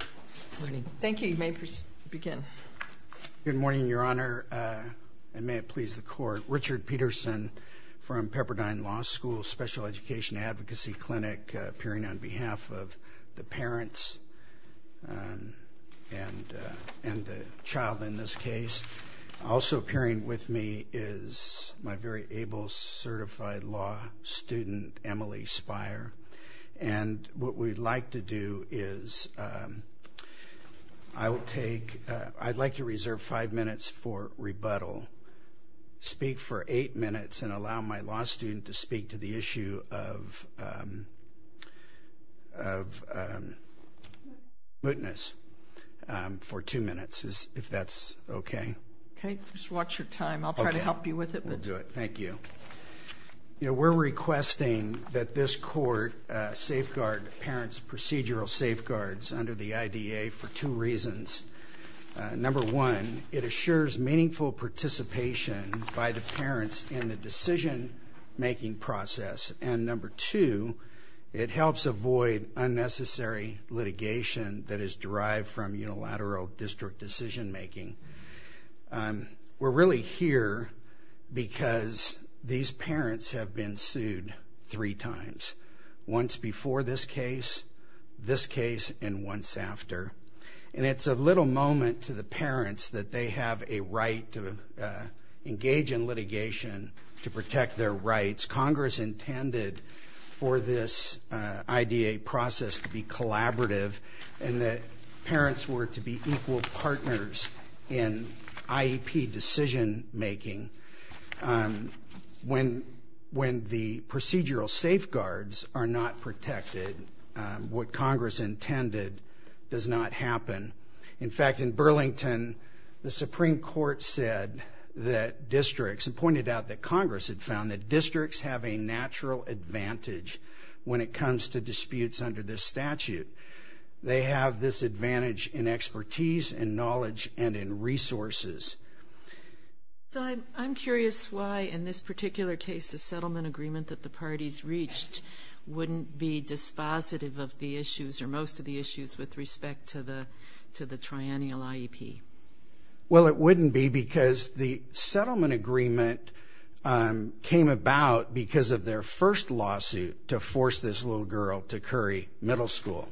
Good morning. Thank you. You may begin. Good morning, Your Honor, and may it please the Court. Richard Peterson from Pepperdine Law School Special Education Advocacy Clinic, appearing on behalf of the parents and the child in this case. Also appearing with me is my very able certified law student, Emily Spire, and what we'd like to do is, I would take, I'd like to reserve five minutes for rebuttal. Speak for eight minutes and allow my law student to speak to the issue of mootness for two minutes, if that's okay. Okay, just watch your time. I'll try to help you with it. We'll do it. Thank you. You know, we're requesting that this court safeguard parents' procedural safeguards under the IDA for two reasons. Number one, it assures meaningful participation by the parents in the decision-making process, and number two, it helps avoid unnecessary litigation that is derived from unilateral district decision-making. We're really here because these parents have been sued three times, once before this case, this case, and once after, and it's a little moment to the parents that they have a right to engage in litigation to protect their rights. Congress intended for this IDA process to be collaborative and that parents were to be equal partners in IEP decision-making. When the procedural safeguards are not protected, what Congress intended does not happen. In fact, in Burlington, the Supreme Court said that districts, and pointed out that Congress had found that districts have a natural advantage when it comes to expertise and knowledge and in resources. So I'm curious why, in this particular case, the settlement agreement that the parties reached wouldn't be dispositive of the issues, or most of the issues, with respect to the triennial IEP. Well, it wouldn't be because the settlement agreement came about because of their first lawsuit to force this little girl to Curry Middle School.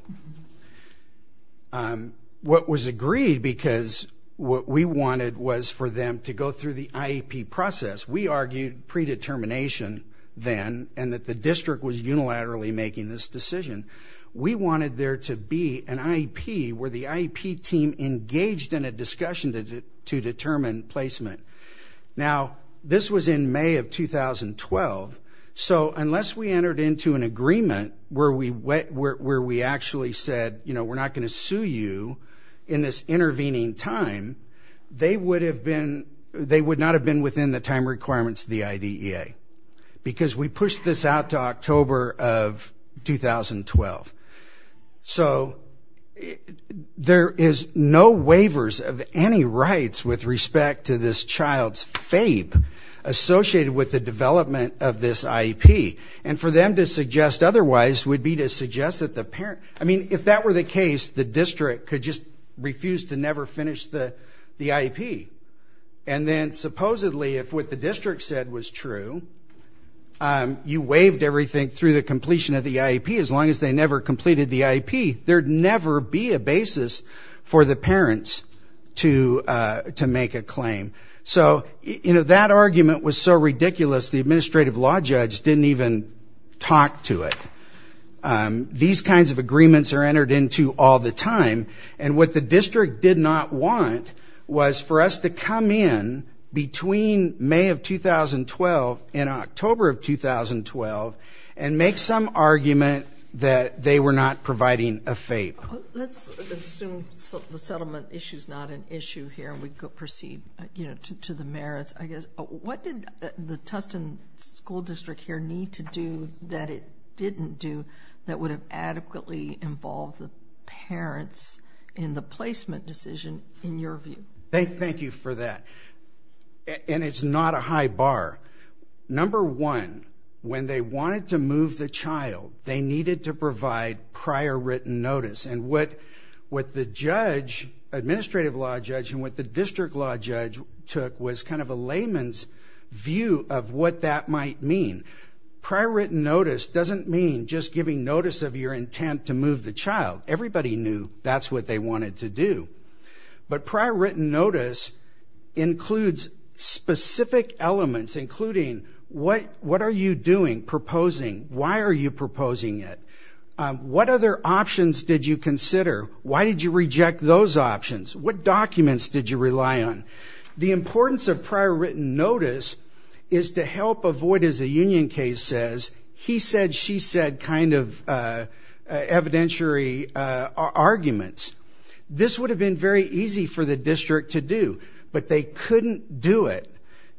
What was agreed, because what we wanted was for them to go through the IEP process, we argued predetermination then, and that the district was unilaterally making this decision. We wanted there to be an IEP where the IEP team engaged in a discussion to determine placement. Now, this was in May of 2012, so unless we entered into an agreement where we actually said, you know, we're not going to sue you in this intervening time, they would not have been within the time requirements of the IDEA, because we pushed this out to October of 2012. So there is no waivers of any rights with respect to this child's FAPE associated with the development of this IEP, and for them to suggest otherwise would be to suggest that the parent, I mean, if that were the case, the district could just refuse to never finish the the IEP. And then, supposedly, if what the district said was true, you waived everything through the completion of the IEP, as long as they never completed the IEP, there'd never be a basis for the parents to to make a claim. So, you know, that argument was so ridiculous the administrative law judge didn't even talk to it. These kinds of agreements are entered into all the time, and what the district did not want was for us to come in between May of 2012 and October of 2012. Let's assume the settlement issue is not an issue here, and we proceed to the merits, I guess. What did the Tustin School District here need to do that it didn't do that would have adequately involved the parents in the placement decision, in your view? Thank you for that. And it's not a high bar. Number one, when they wanted to prior written notice, and what what the judge, administrative law judge, and what the district law judge took was kind of a layman's view of what that might mean. Prior written notice doesn't mean just giving notice of your intent to move the child. Everybody knew that's what they wanted to do. But prior written notice includes specific elements, including what what are you doing, proposing, why are you proposing it, what other options did you consider, why did you reject those options, what documents did you rely on. The importance of prior written notice is to help avoid, as a union case says, he said she said kind of evidentiary arguments. This would have been very easy for the district to do, but they couldn't do it,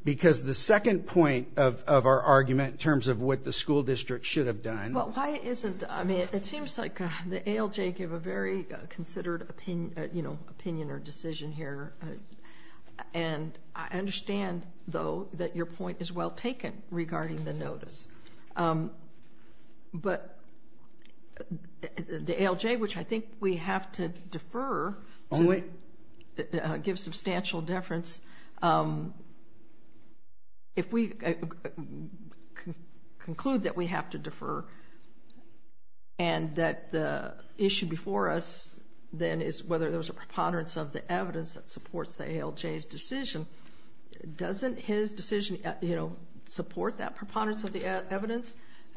because the second point of our argument in terms of what the school district should have done. Well, why isn't, I mean it seems like the ALJ gave a very considered opinion, you know, opinion or decision here. And I understand, though, that your point is well taken regarding the notice. But the ALJ, which I think we have to defer, gives substantial deference. If we conclude that we have to defer, and that the issue before us then is whether there was a preponderance of the evidence that supports the ALJ's decision, doesn't his decision, you know, support that preponderance of the evidence?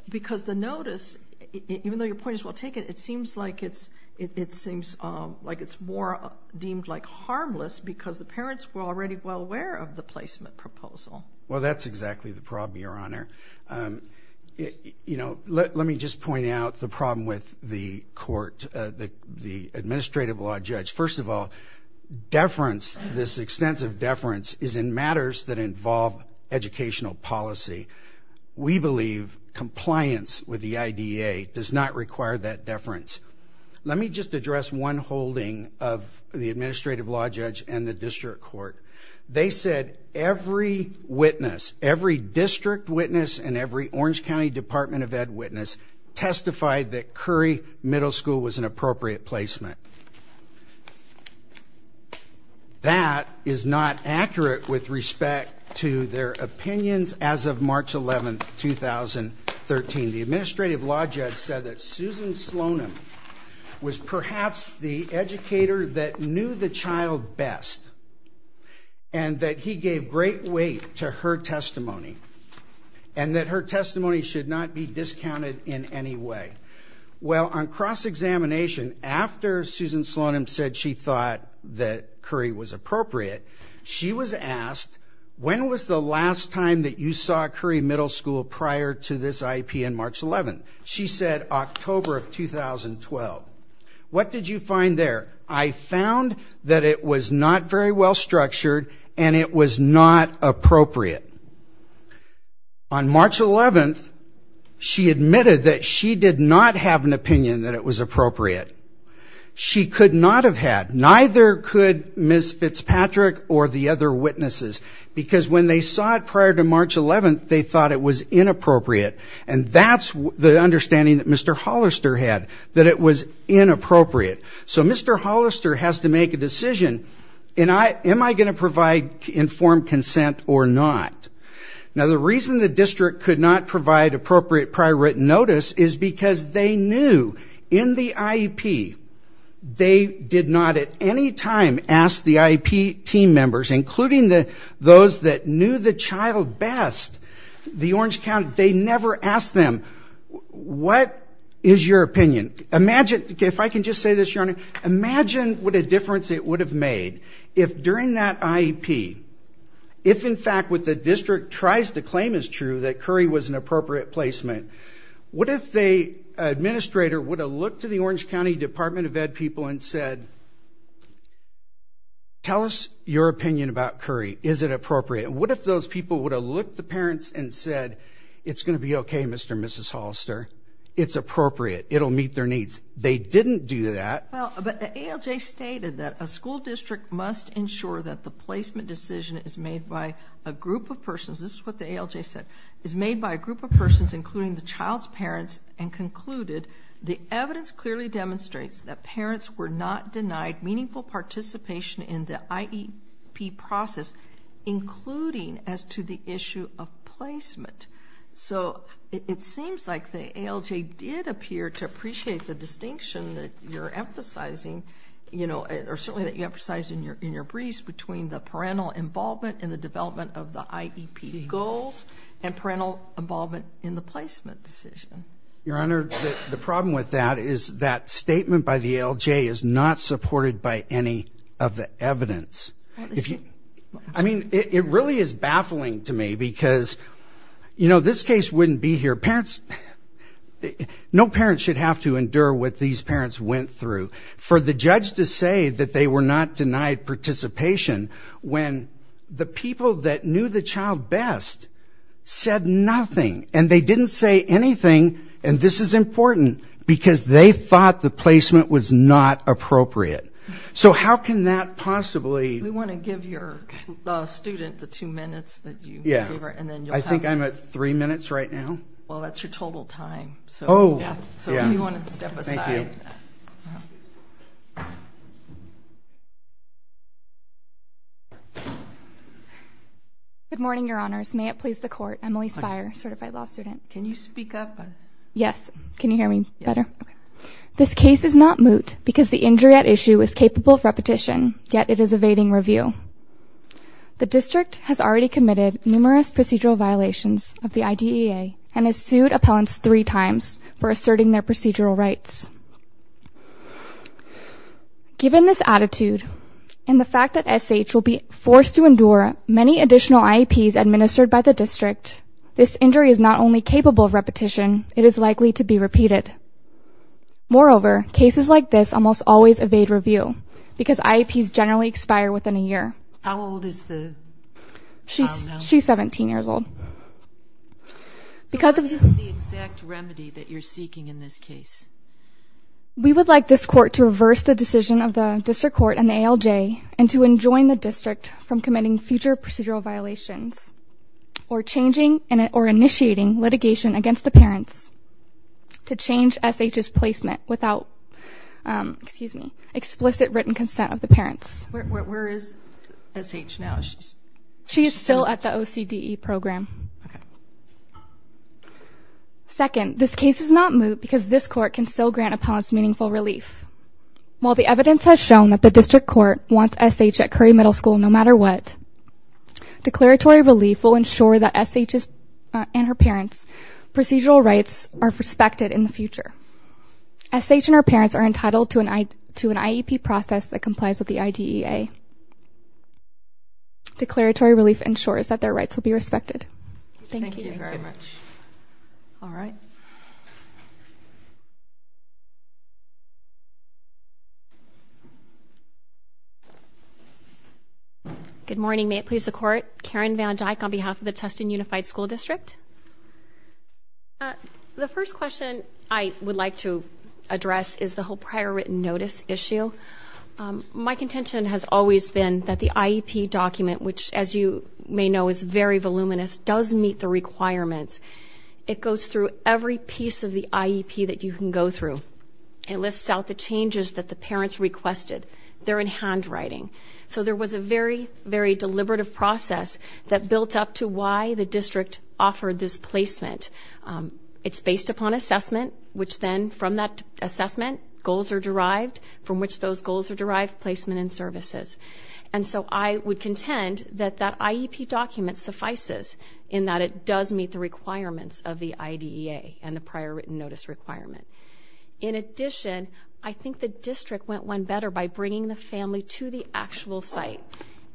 Because the notice, even though your point is well taken, it seems like it's more deemed like harmless because the parents were already well aware of the placement proposal. Well, that's exactly the problem, your honor. You know, let me just point out the problem with the court, the administrative law judge. First of all, deference, this extensive deference, is in matters that involve educational policy. We believe compliance with the IDA does not require that deference. Let me just address one holding of the administrative law judge and the district court. They said every witness, every district witness and every Orange County Department of Ed witness, testified that Curry Middle School was an appropriate placement. That is not accurate with respect to their opinions as of March 11, 2013. The administrative law judge said that Susan Slonim was perhaps the educator that knew the child best and that he gave great weight to her testimony and that her testimony should not be discounted in any way. Well, on cross-examination, after Susan Slonim said she thought that Curry was appropriate, she was asked, when was the last time that you saw Curry Middle School prior to this IEP on March 11? She said October of 2012. What did you find there? I found that it was not very well structured and it was not appropriate. On cross-examination that it was appropriate. She could not have had, neither could Ms. Fitzpatrick or the other witnesses, because when they saw it prior to March 11, they thought it was inappropriate and that's the understanding that Mr. Hollister had, that it was inappropriate. So Mr. Hollister has to make a decision, am I going to provide informed consent or not? Now the reason the district could not provide appropriate prior written notice is because they knew in the IEP, they did not at any time ask the IEP team members, including those that knew the child best, the Orange County, they never asked them, what is your opinion? Imagine, if I can just say this, Your Honor, imagine what a difference it would have made if during that IEP, if in fact what the district tries to claim is true, that Curry was an appropriate placement. What if the administrator would have looked to the Orange County Department of Ed people and said, tell us your opinion about Curry, is it appropriate? What if those people would have looked the parents and said, it's going to be okay, Mr. and Mrs. Hollister, it's appropriate, it'll meet their needs. They didn't do that. Well, but the ALJ stated that a school district must ensure that the placement decision is made by a group of persons, this is what the ALJ said, is made by a group of persons including the child's parents and concluded the evidence clearly demonstrates that parents were not denied meaningful participation in the IEP process, including as to the issue of placement. So it seems like the ALJ did appear to appreciate the distinction that you're emphasizing, you know, or certainly that you emphasized in your in your briefs between the parental involvement and the development of the IEP goals and parental involvement in the placement decision. Your Honor, the problem with that is that statement by the ALJ is not supported by any of the evidence. I mean, it really is baffling to me because, you know, this case wouldn't be here. Parents, no parents should have to endure what these parents went through. For the judge to say that they were not denied participation when the people that knew the child best said nothing and they didn't say anything, and this is important, because they thought the placement was not appropriate. So how can that possibly... We want to give your student the two minutes that you... Yeah, I think I'm at three minutes right now. Well, that's your total time. Oh, yeah. So if you want to step aside. Good morning, Your Honors. May it please the Court. Emily Speyer, certified law student. Can you speak up? Yes. Can you hear me better? This case is not moot because the injury at issue is capable of repetition, yet it is evading review. The district has already committed numerous procedural violations of the IDEA and has sued appellants three times for asserting their procedural rights. Given this attitude, and the fact that SH will be forced to endure many additional IEPs administered by the district, this injury is not only capable of repetition, it is likely to be repeated. Moreover, cases like this almost always evade review because IEPs generally expire within a year. How old is the... She's 17 years old. Because of this... So what is the exact remedy that you're seeking in this case? We would like this court to reverse the decision of the district court and the ALJ and to enjoin the district from committing future procedural violations or changing or initiating litigation against the parents to change SH's placement without, excuse me, explicit written consent of the parents. Where is SH now? She's still at the OCDE program. Second, this case is not moot because this court can still grant appellants meaningful relief. While the evidence has shown that the district court wants SH at Curry Middle School no matter what, declaratory relief will ensure that SH's and her parents' procedural rights are respected in the future. SH and her parents are entitled to an IEP process that complies with the IDEA. Declaratory relief ensures that their rights will be respected. Thank you very much. All right. Good morning. May it please the court. Karen Van Dyke on behalf of the Tustin Unified School District. The first question I would like to address is the whole prior written notice issue. My contention has always been that the IEP document, which as you may know is very voluminous, does meet the requirements. It goes through every piece of the IEP that you can go through. It lists out the changes that the parents requested. They're in handwriting. So there was a very, very deliberative process that built up to why the district offered this placement. It's based upon assessment, which then from that assessment, goals are derived from which those goals are derived placement and so I would contend that that IEP document suffices in that it does meet the requirements of the IDEA and the prior written notice requirement. In addition, I think the district went one better by bringing the family to the actual site.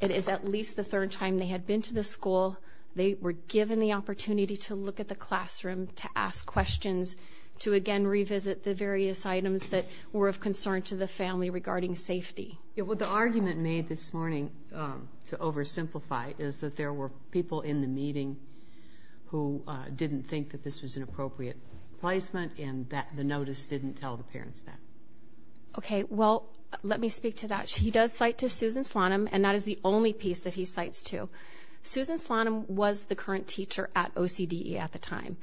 It is at least the third time they had been to the school. They were given the opportunity to look at the classroom, to ask questions, to again revisit the various items that were of concern to the family regarding safety. What the argument made this morning, to oversimplify, is that there were people in the meeting who didn't think that this was an appropriate placement and that the notice didn't tell the parents that. Okay, well let me speak to that. He does cite to Susan Slonim and that is the only piece that he cites to. Susan Slonim was the current teacher at OCDE at the time.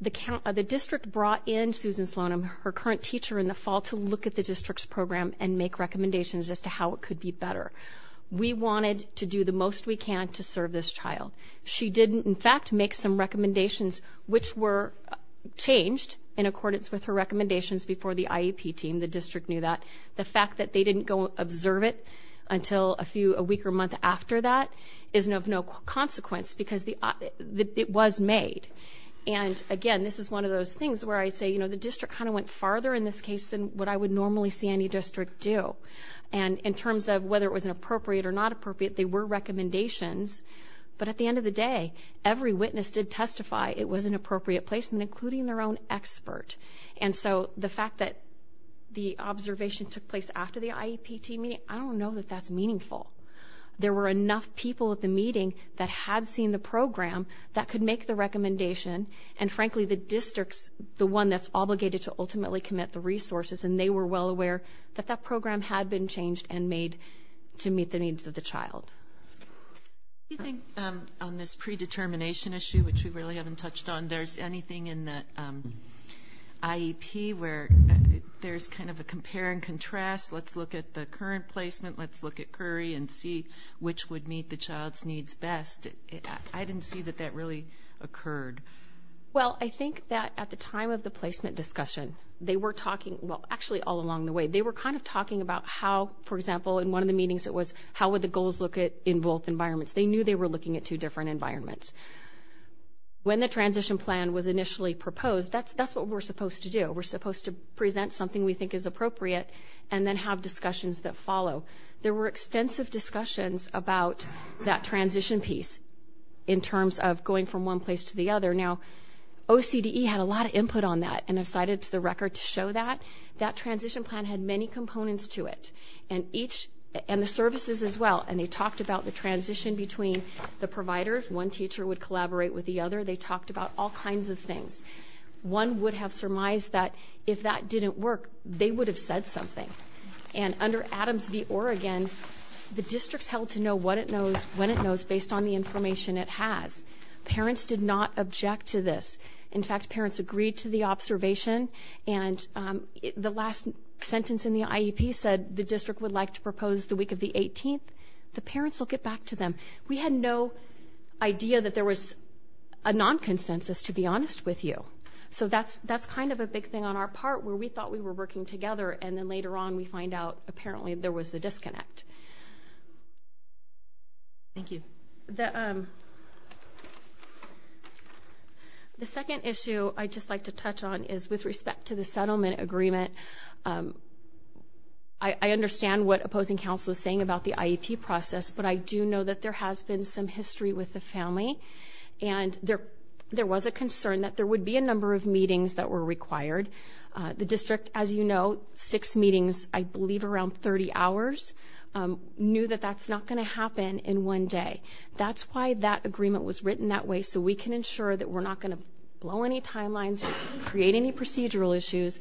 The district brought in Susan Slonim, her current teacher in the fall, to look at the how it could be better. We wanted to do the most we can to serve this child. She did in fact make some recommendations which were changed in accordance with her recommendations before the IEP team. The district knew that. The fact that they didn't go observe it until a few a week or month after that is of no consequence because it was made. And again, this is one of those things where I'd say, you know, the district kind of went farther in this case than what I would normally see any district do. And in terms of whether it was an appropriate or not appropriate, they were recommendations. But at the end of the day, every witness did testify it was an appropriate placement, including their own expert. And so the fact that the observation took place after the IEP team meeting, I don't know that that's meaningful. There were enough people at the meeting that had seen the program that could make the recommendation. And frankly, the district's the one that's obligated to ultimately commit the well aware that that program had been changed and made to meet the needs of the child. Do you think on this predetermination issue, which we really haven't touched on, there's anything in the IEP where there's kind of a compare and contrast? Let's look at the current placement. Let's look at Curry and see which would meet the child's needs best. I didn't see that that really occurred. Well, I think that at the time of the placement discussion, they were talking, well, actually all along the way, they were kind of talking about how, for example, in one of the meetings, it was how would the goals look at in both environments? They knew they were looking at two different environments when the transition plan was initially proposed. That's that's what we're supposed to do. We're supposed to present something we think is appropriate and then have discussions that follow. There were extensive discussions about that transition piece in terms of going from one place to the other. Now, O. C. D. E. Had a lot of input on that and decided to the record to show that that transition plan had many components to it and each and the services as well. And they talked about the transition between the providers. One teacher would collaborate with the other. They talked about all kinds of things. One would have surmised that if that didn't work, they would have said something. And under Adams v. Oregon, the district's held to know what it knows when it knows based on the information it has. Parents did not object to this. In fact, parents agreed to the observation. And, um, the last sentence in the I. E. P. Said the district would like to propose the week of the 18th. The parents will get back to them. We had no idea that there was a non consensus, to be honest with you. So that's that's kind of a big thing on our part where we thought we were working together. And then later on, we find out apparently there was a disconnect. Thank you. The the second issue I just like to touch on is with respect to the settlement agreement. Um, I understand what opposing counsel is saying about the I. P. Process. But I do know that there has been some history with the family and there there was a concern that there would be a number of meetings that were required. The district, as you know, six meetings, I believe around 30 hours, um, knew that that's not gonna happen in one day. That's why that agreement was written that way so we can ensure that we're not gonna blow any timelines, create any procedural issues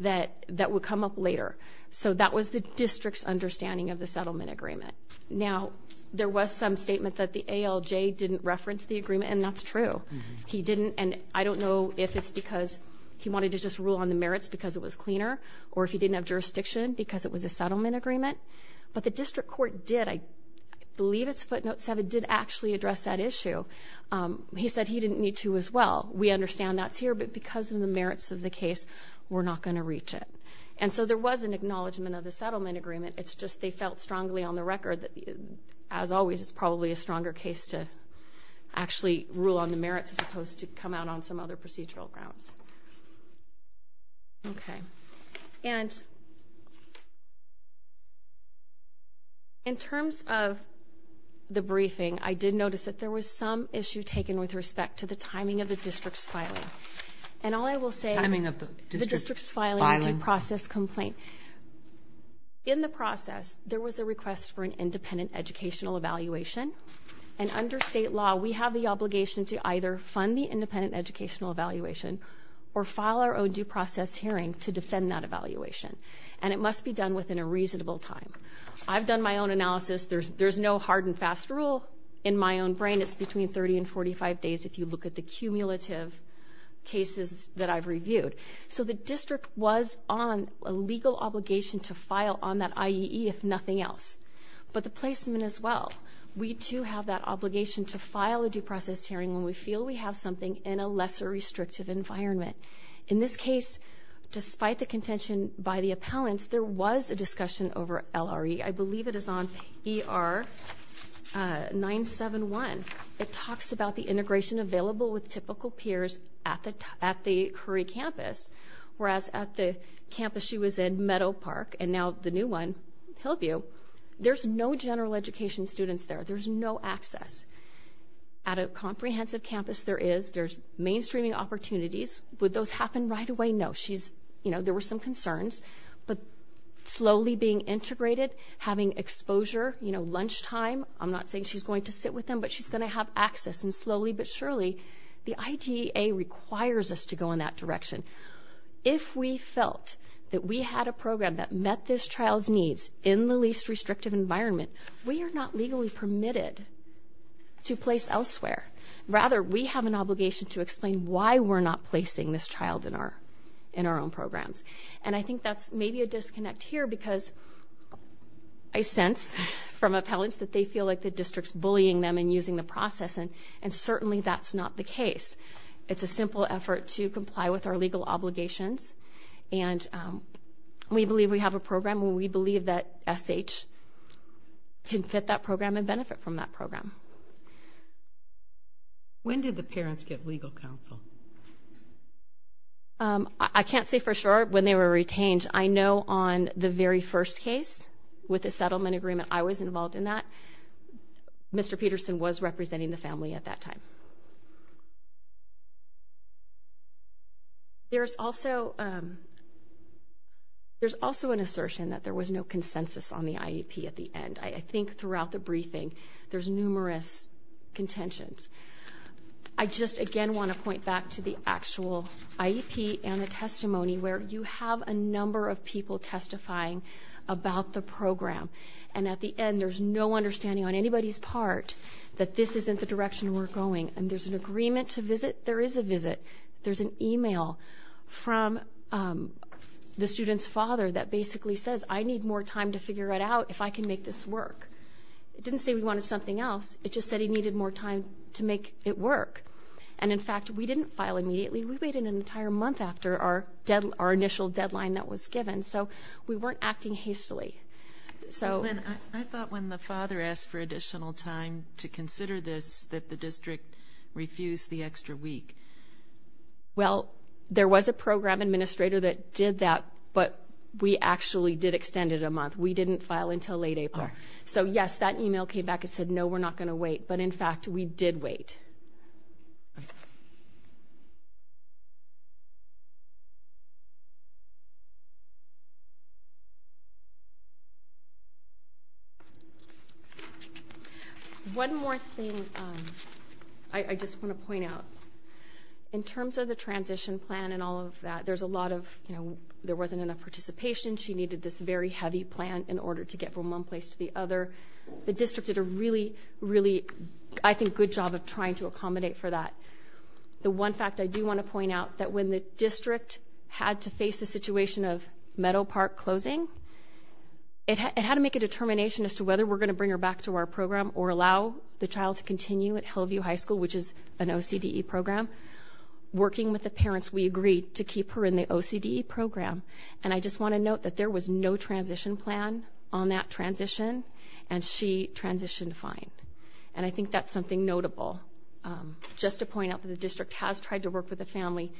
that that would come up later. So that was the district's understanding of the settlement agreement. Now, there was some statement that the A. L. J. Didn't reference the agreement, and that's true. He didn't. And I don't know if it's because he wanted to just rule on the merits because it was cleaner or if he didn't have jurisdiction because it was a settlement agreement. But the district court did. I believe it's seven did actually address that issue. Um, he said he didn't need to as well. We understand that's here, but because of the merits of the case, we're not gonna reach it. And so there was an acknowledgement of the settlement agreement. It's just they felt strongly on the record that, as always, it's probably a stronger case toe actually rule on the merits as opposed to come out on some other procedural grounds. Okay, and in terms of the briefing, I did notice that there was some issue taken with respect to the timing of the district's filing and all I will say timing of the district's filing process complaint in the process. There was a request for an independent educational evaluation, and under state law, we have the obligation to either fund the independent educational evaluation or file our own due process hearing to defend that evaluation, and it must be done within a reasonable time. I've no hard and fast rule in my own brain. It's between 30 and 45 days. If you look at the cumulative cases that I've reviewed, so the district was on a legal obligation to file on that I E. If nothing else, but the placement as well. We, too, have that obligation to file a due process hearing when we feel we have something in a lesser restrictive environment. In this case, despite the contention by the appellant, there was a discussion over L. R. E. I believe it is on E. R. 971. It talks about the integration available with typical peers at the at the Curry campus, whereas at the campus she was in Meadow Park and now the new one help you. There's no general education students there. There's no access at a comprehensive campus. There is. There's mainstreaming opportunities. Would those happen right away? No, she's you know, there were some concerns, but slowly being integrated, having exposure, you know, lunchtime. I'm not saying she's going to sit with them, but she's gonna have access and slowly but surely the idea requires us to go in that direction. If we felt that we had a program that met this child's needs in the least restrictive environment, we're not legally permitted to place elsewhere. Rather, we have an obligation to explain why we're not that's maybe a disconnect here because I sense from appellants that they feel like the district's bullying them and using the process. And and certainly that's not the case. It's a simple effort to comply with our legal obligations, and we believe we have a program where we believe that S. H. Can fit that program and benefit from that program. When did the parents get legal counsel? Yeah. Um, I can't say for sure when they were retained. I know on the very first case with the settlement agreement, I was involved in that. Mr Peterson was representing the family at that time. There's also, um there's also an assertion that there was no consensus on the IEP at the end. I think throughout the briefing, there's numerous contentions. I just again want to point back to the actual IEP and the testimony where you have a number of people testifying about the program. And at the end, there's no understanding on anybody's part that this isn't the direction we're going. And there's an agreement to visit. There is a visit. There's an email from, um, the student's father that basically says, I need more time to figure it out if I can make this work. It didn't say we wanted something else. It just said he needed more time to make it work. And in fact, we didn't file immediately. We waited an entire month after our our initial deadline that was given. So we weren't acting hastily. So I thought when the father asked for additional time to consider this, that the district refused the extra week. Well, there was a program administrator that did that. But we actually did extended a month. We didn't file until late April. So yes, that email came back and said, No, we're not going to wait. But in fact, we did wait. One more thing I just want to point out. In terms of the transition plan and all of that, there's a lot of, there wasn't enough participation. She needed this very heavy plan in order to get from one place to the other. The district did a really, really, I think, good job of trying to accommodate for that. The one fact I do want to point out that when the district had to face the situation of Meadow Park closing, it had to make a determination as to whether we're gonna bring her back to our program or allow the child to continue at Hillview High School, which is an O. C. D. E. Program. Working with the parents, we agreed to keep her in the O. C. D. E. Program. And I just want to note that there was no transition plan on that transition, and she transitioned fine. And I think that's something notable. Um, just to point out that the district has tried to work with the family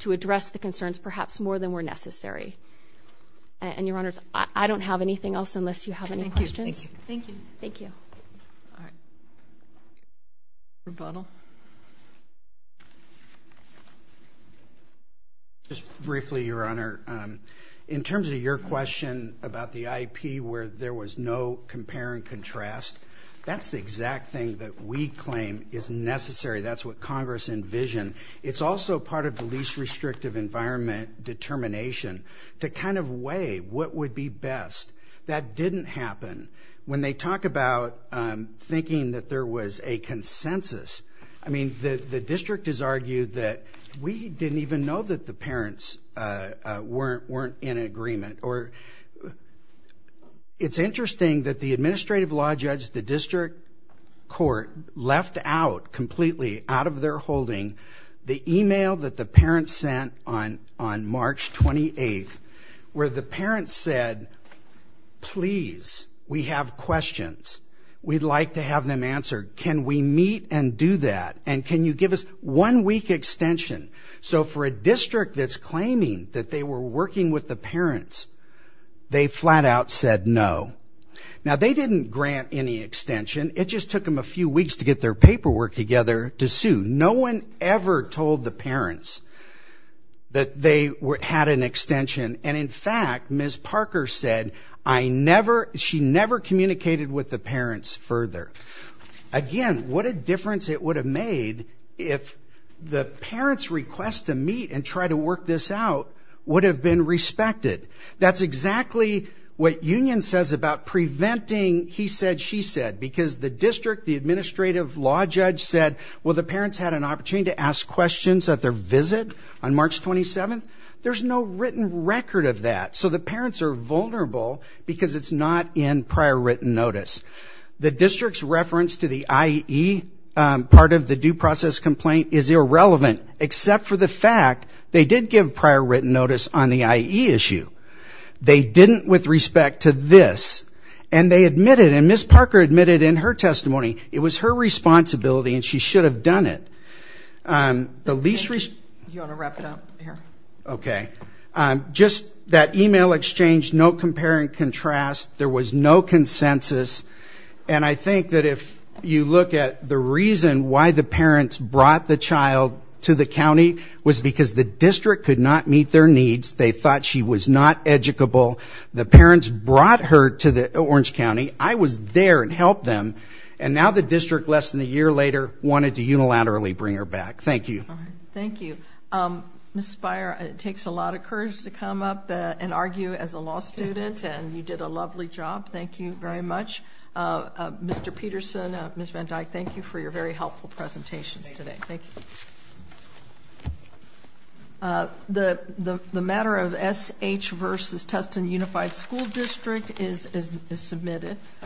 to address the concerns, perhaps more than were necessary. And your honors, I don't have anything else unless you have any questions. Thank you. Thank you. Rebuttal. Yeah. Just briefly, Your Honor, in terms of your question about the I. P. Where there was no compare and contrast, that's the exact thing that we claim is necessary. That's what Congress envision. It's also part of the least restrictive environment determination to kind of way what would be best. That didn't happen when they talk about thinking that there was a consensus. I mean, the district is argued that we didn't even know that the parents, uh, weren't weren't in agreement or it's interesting that the administrative law judge, the district court left out completely out of their holding the email that the parents sent on on March 28th, where the parents said, Please, we have questions. We'd like to have them answered. Can we meet and do that? And can you give us one week extension? So for a district that's claiming that they were working with the parents, they flat out said no. Now they didn't grant any extension. It just took him a few weeks to get their paperwork together to sue. No one ever told the parents that they had an extension. And in fact, Miss Parker said, I never she never communicated with the parents further again. What a difference it would have made if the parents request to meet and try to work this out would have been respected. That's exactly what union says about preventing. He said, she said, because the district, the administrative law judge said, Well, the parents had an opportunity to ask questions at their visit on March 27. There's no written record of that. So the parents are vulnerable because it's not in prior written notice. The district's reference to the I. E. Part of the due process complaint is irrelevant except for the fact they did give prior written notice on the I. E. Issue. They didn't with respect to this and they admitted and Miss Parker admitted in her should have done it. Um, the least you want to wrap it up here. Okay. Um, just that email exchange. No comparing contrast. There was no consensus. And I think that if you look at the reason why the parents brought the child to the county was because the district could not meet their needs. They thought she was not educable. The parents brought her to the Orange County. I was there and help them. And now the district less than a year later wanted to unilaterally bring her back. Thank you. Thank you. Um, Miss Spire, it takes a lot of courage to come up and argue as a law student. And you did a lovely job. Thank you very much. Uh, Mr Peterson, Miss Van Dyke, thank you for your very helpful presentations today. Thank you. Uh, the matter of S. H. Versus Tustin Unified School District is submitted.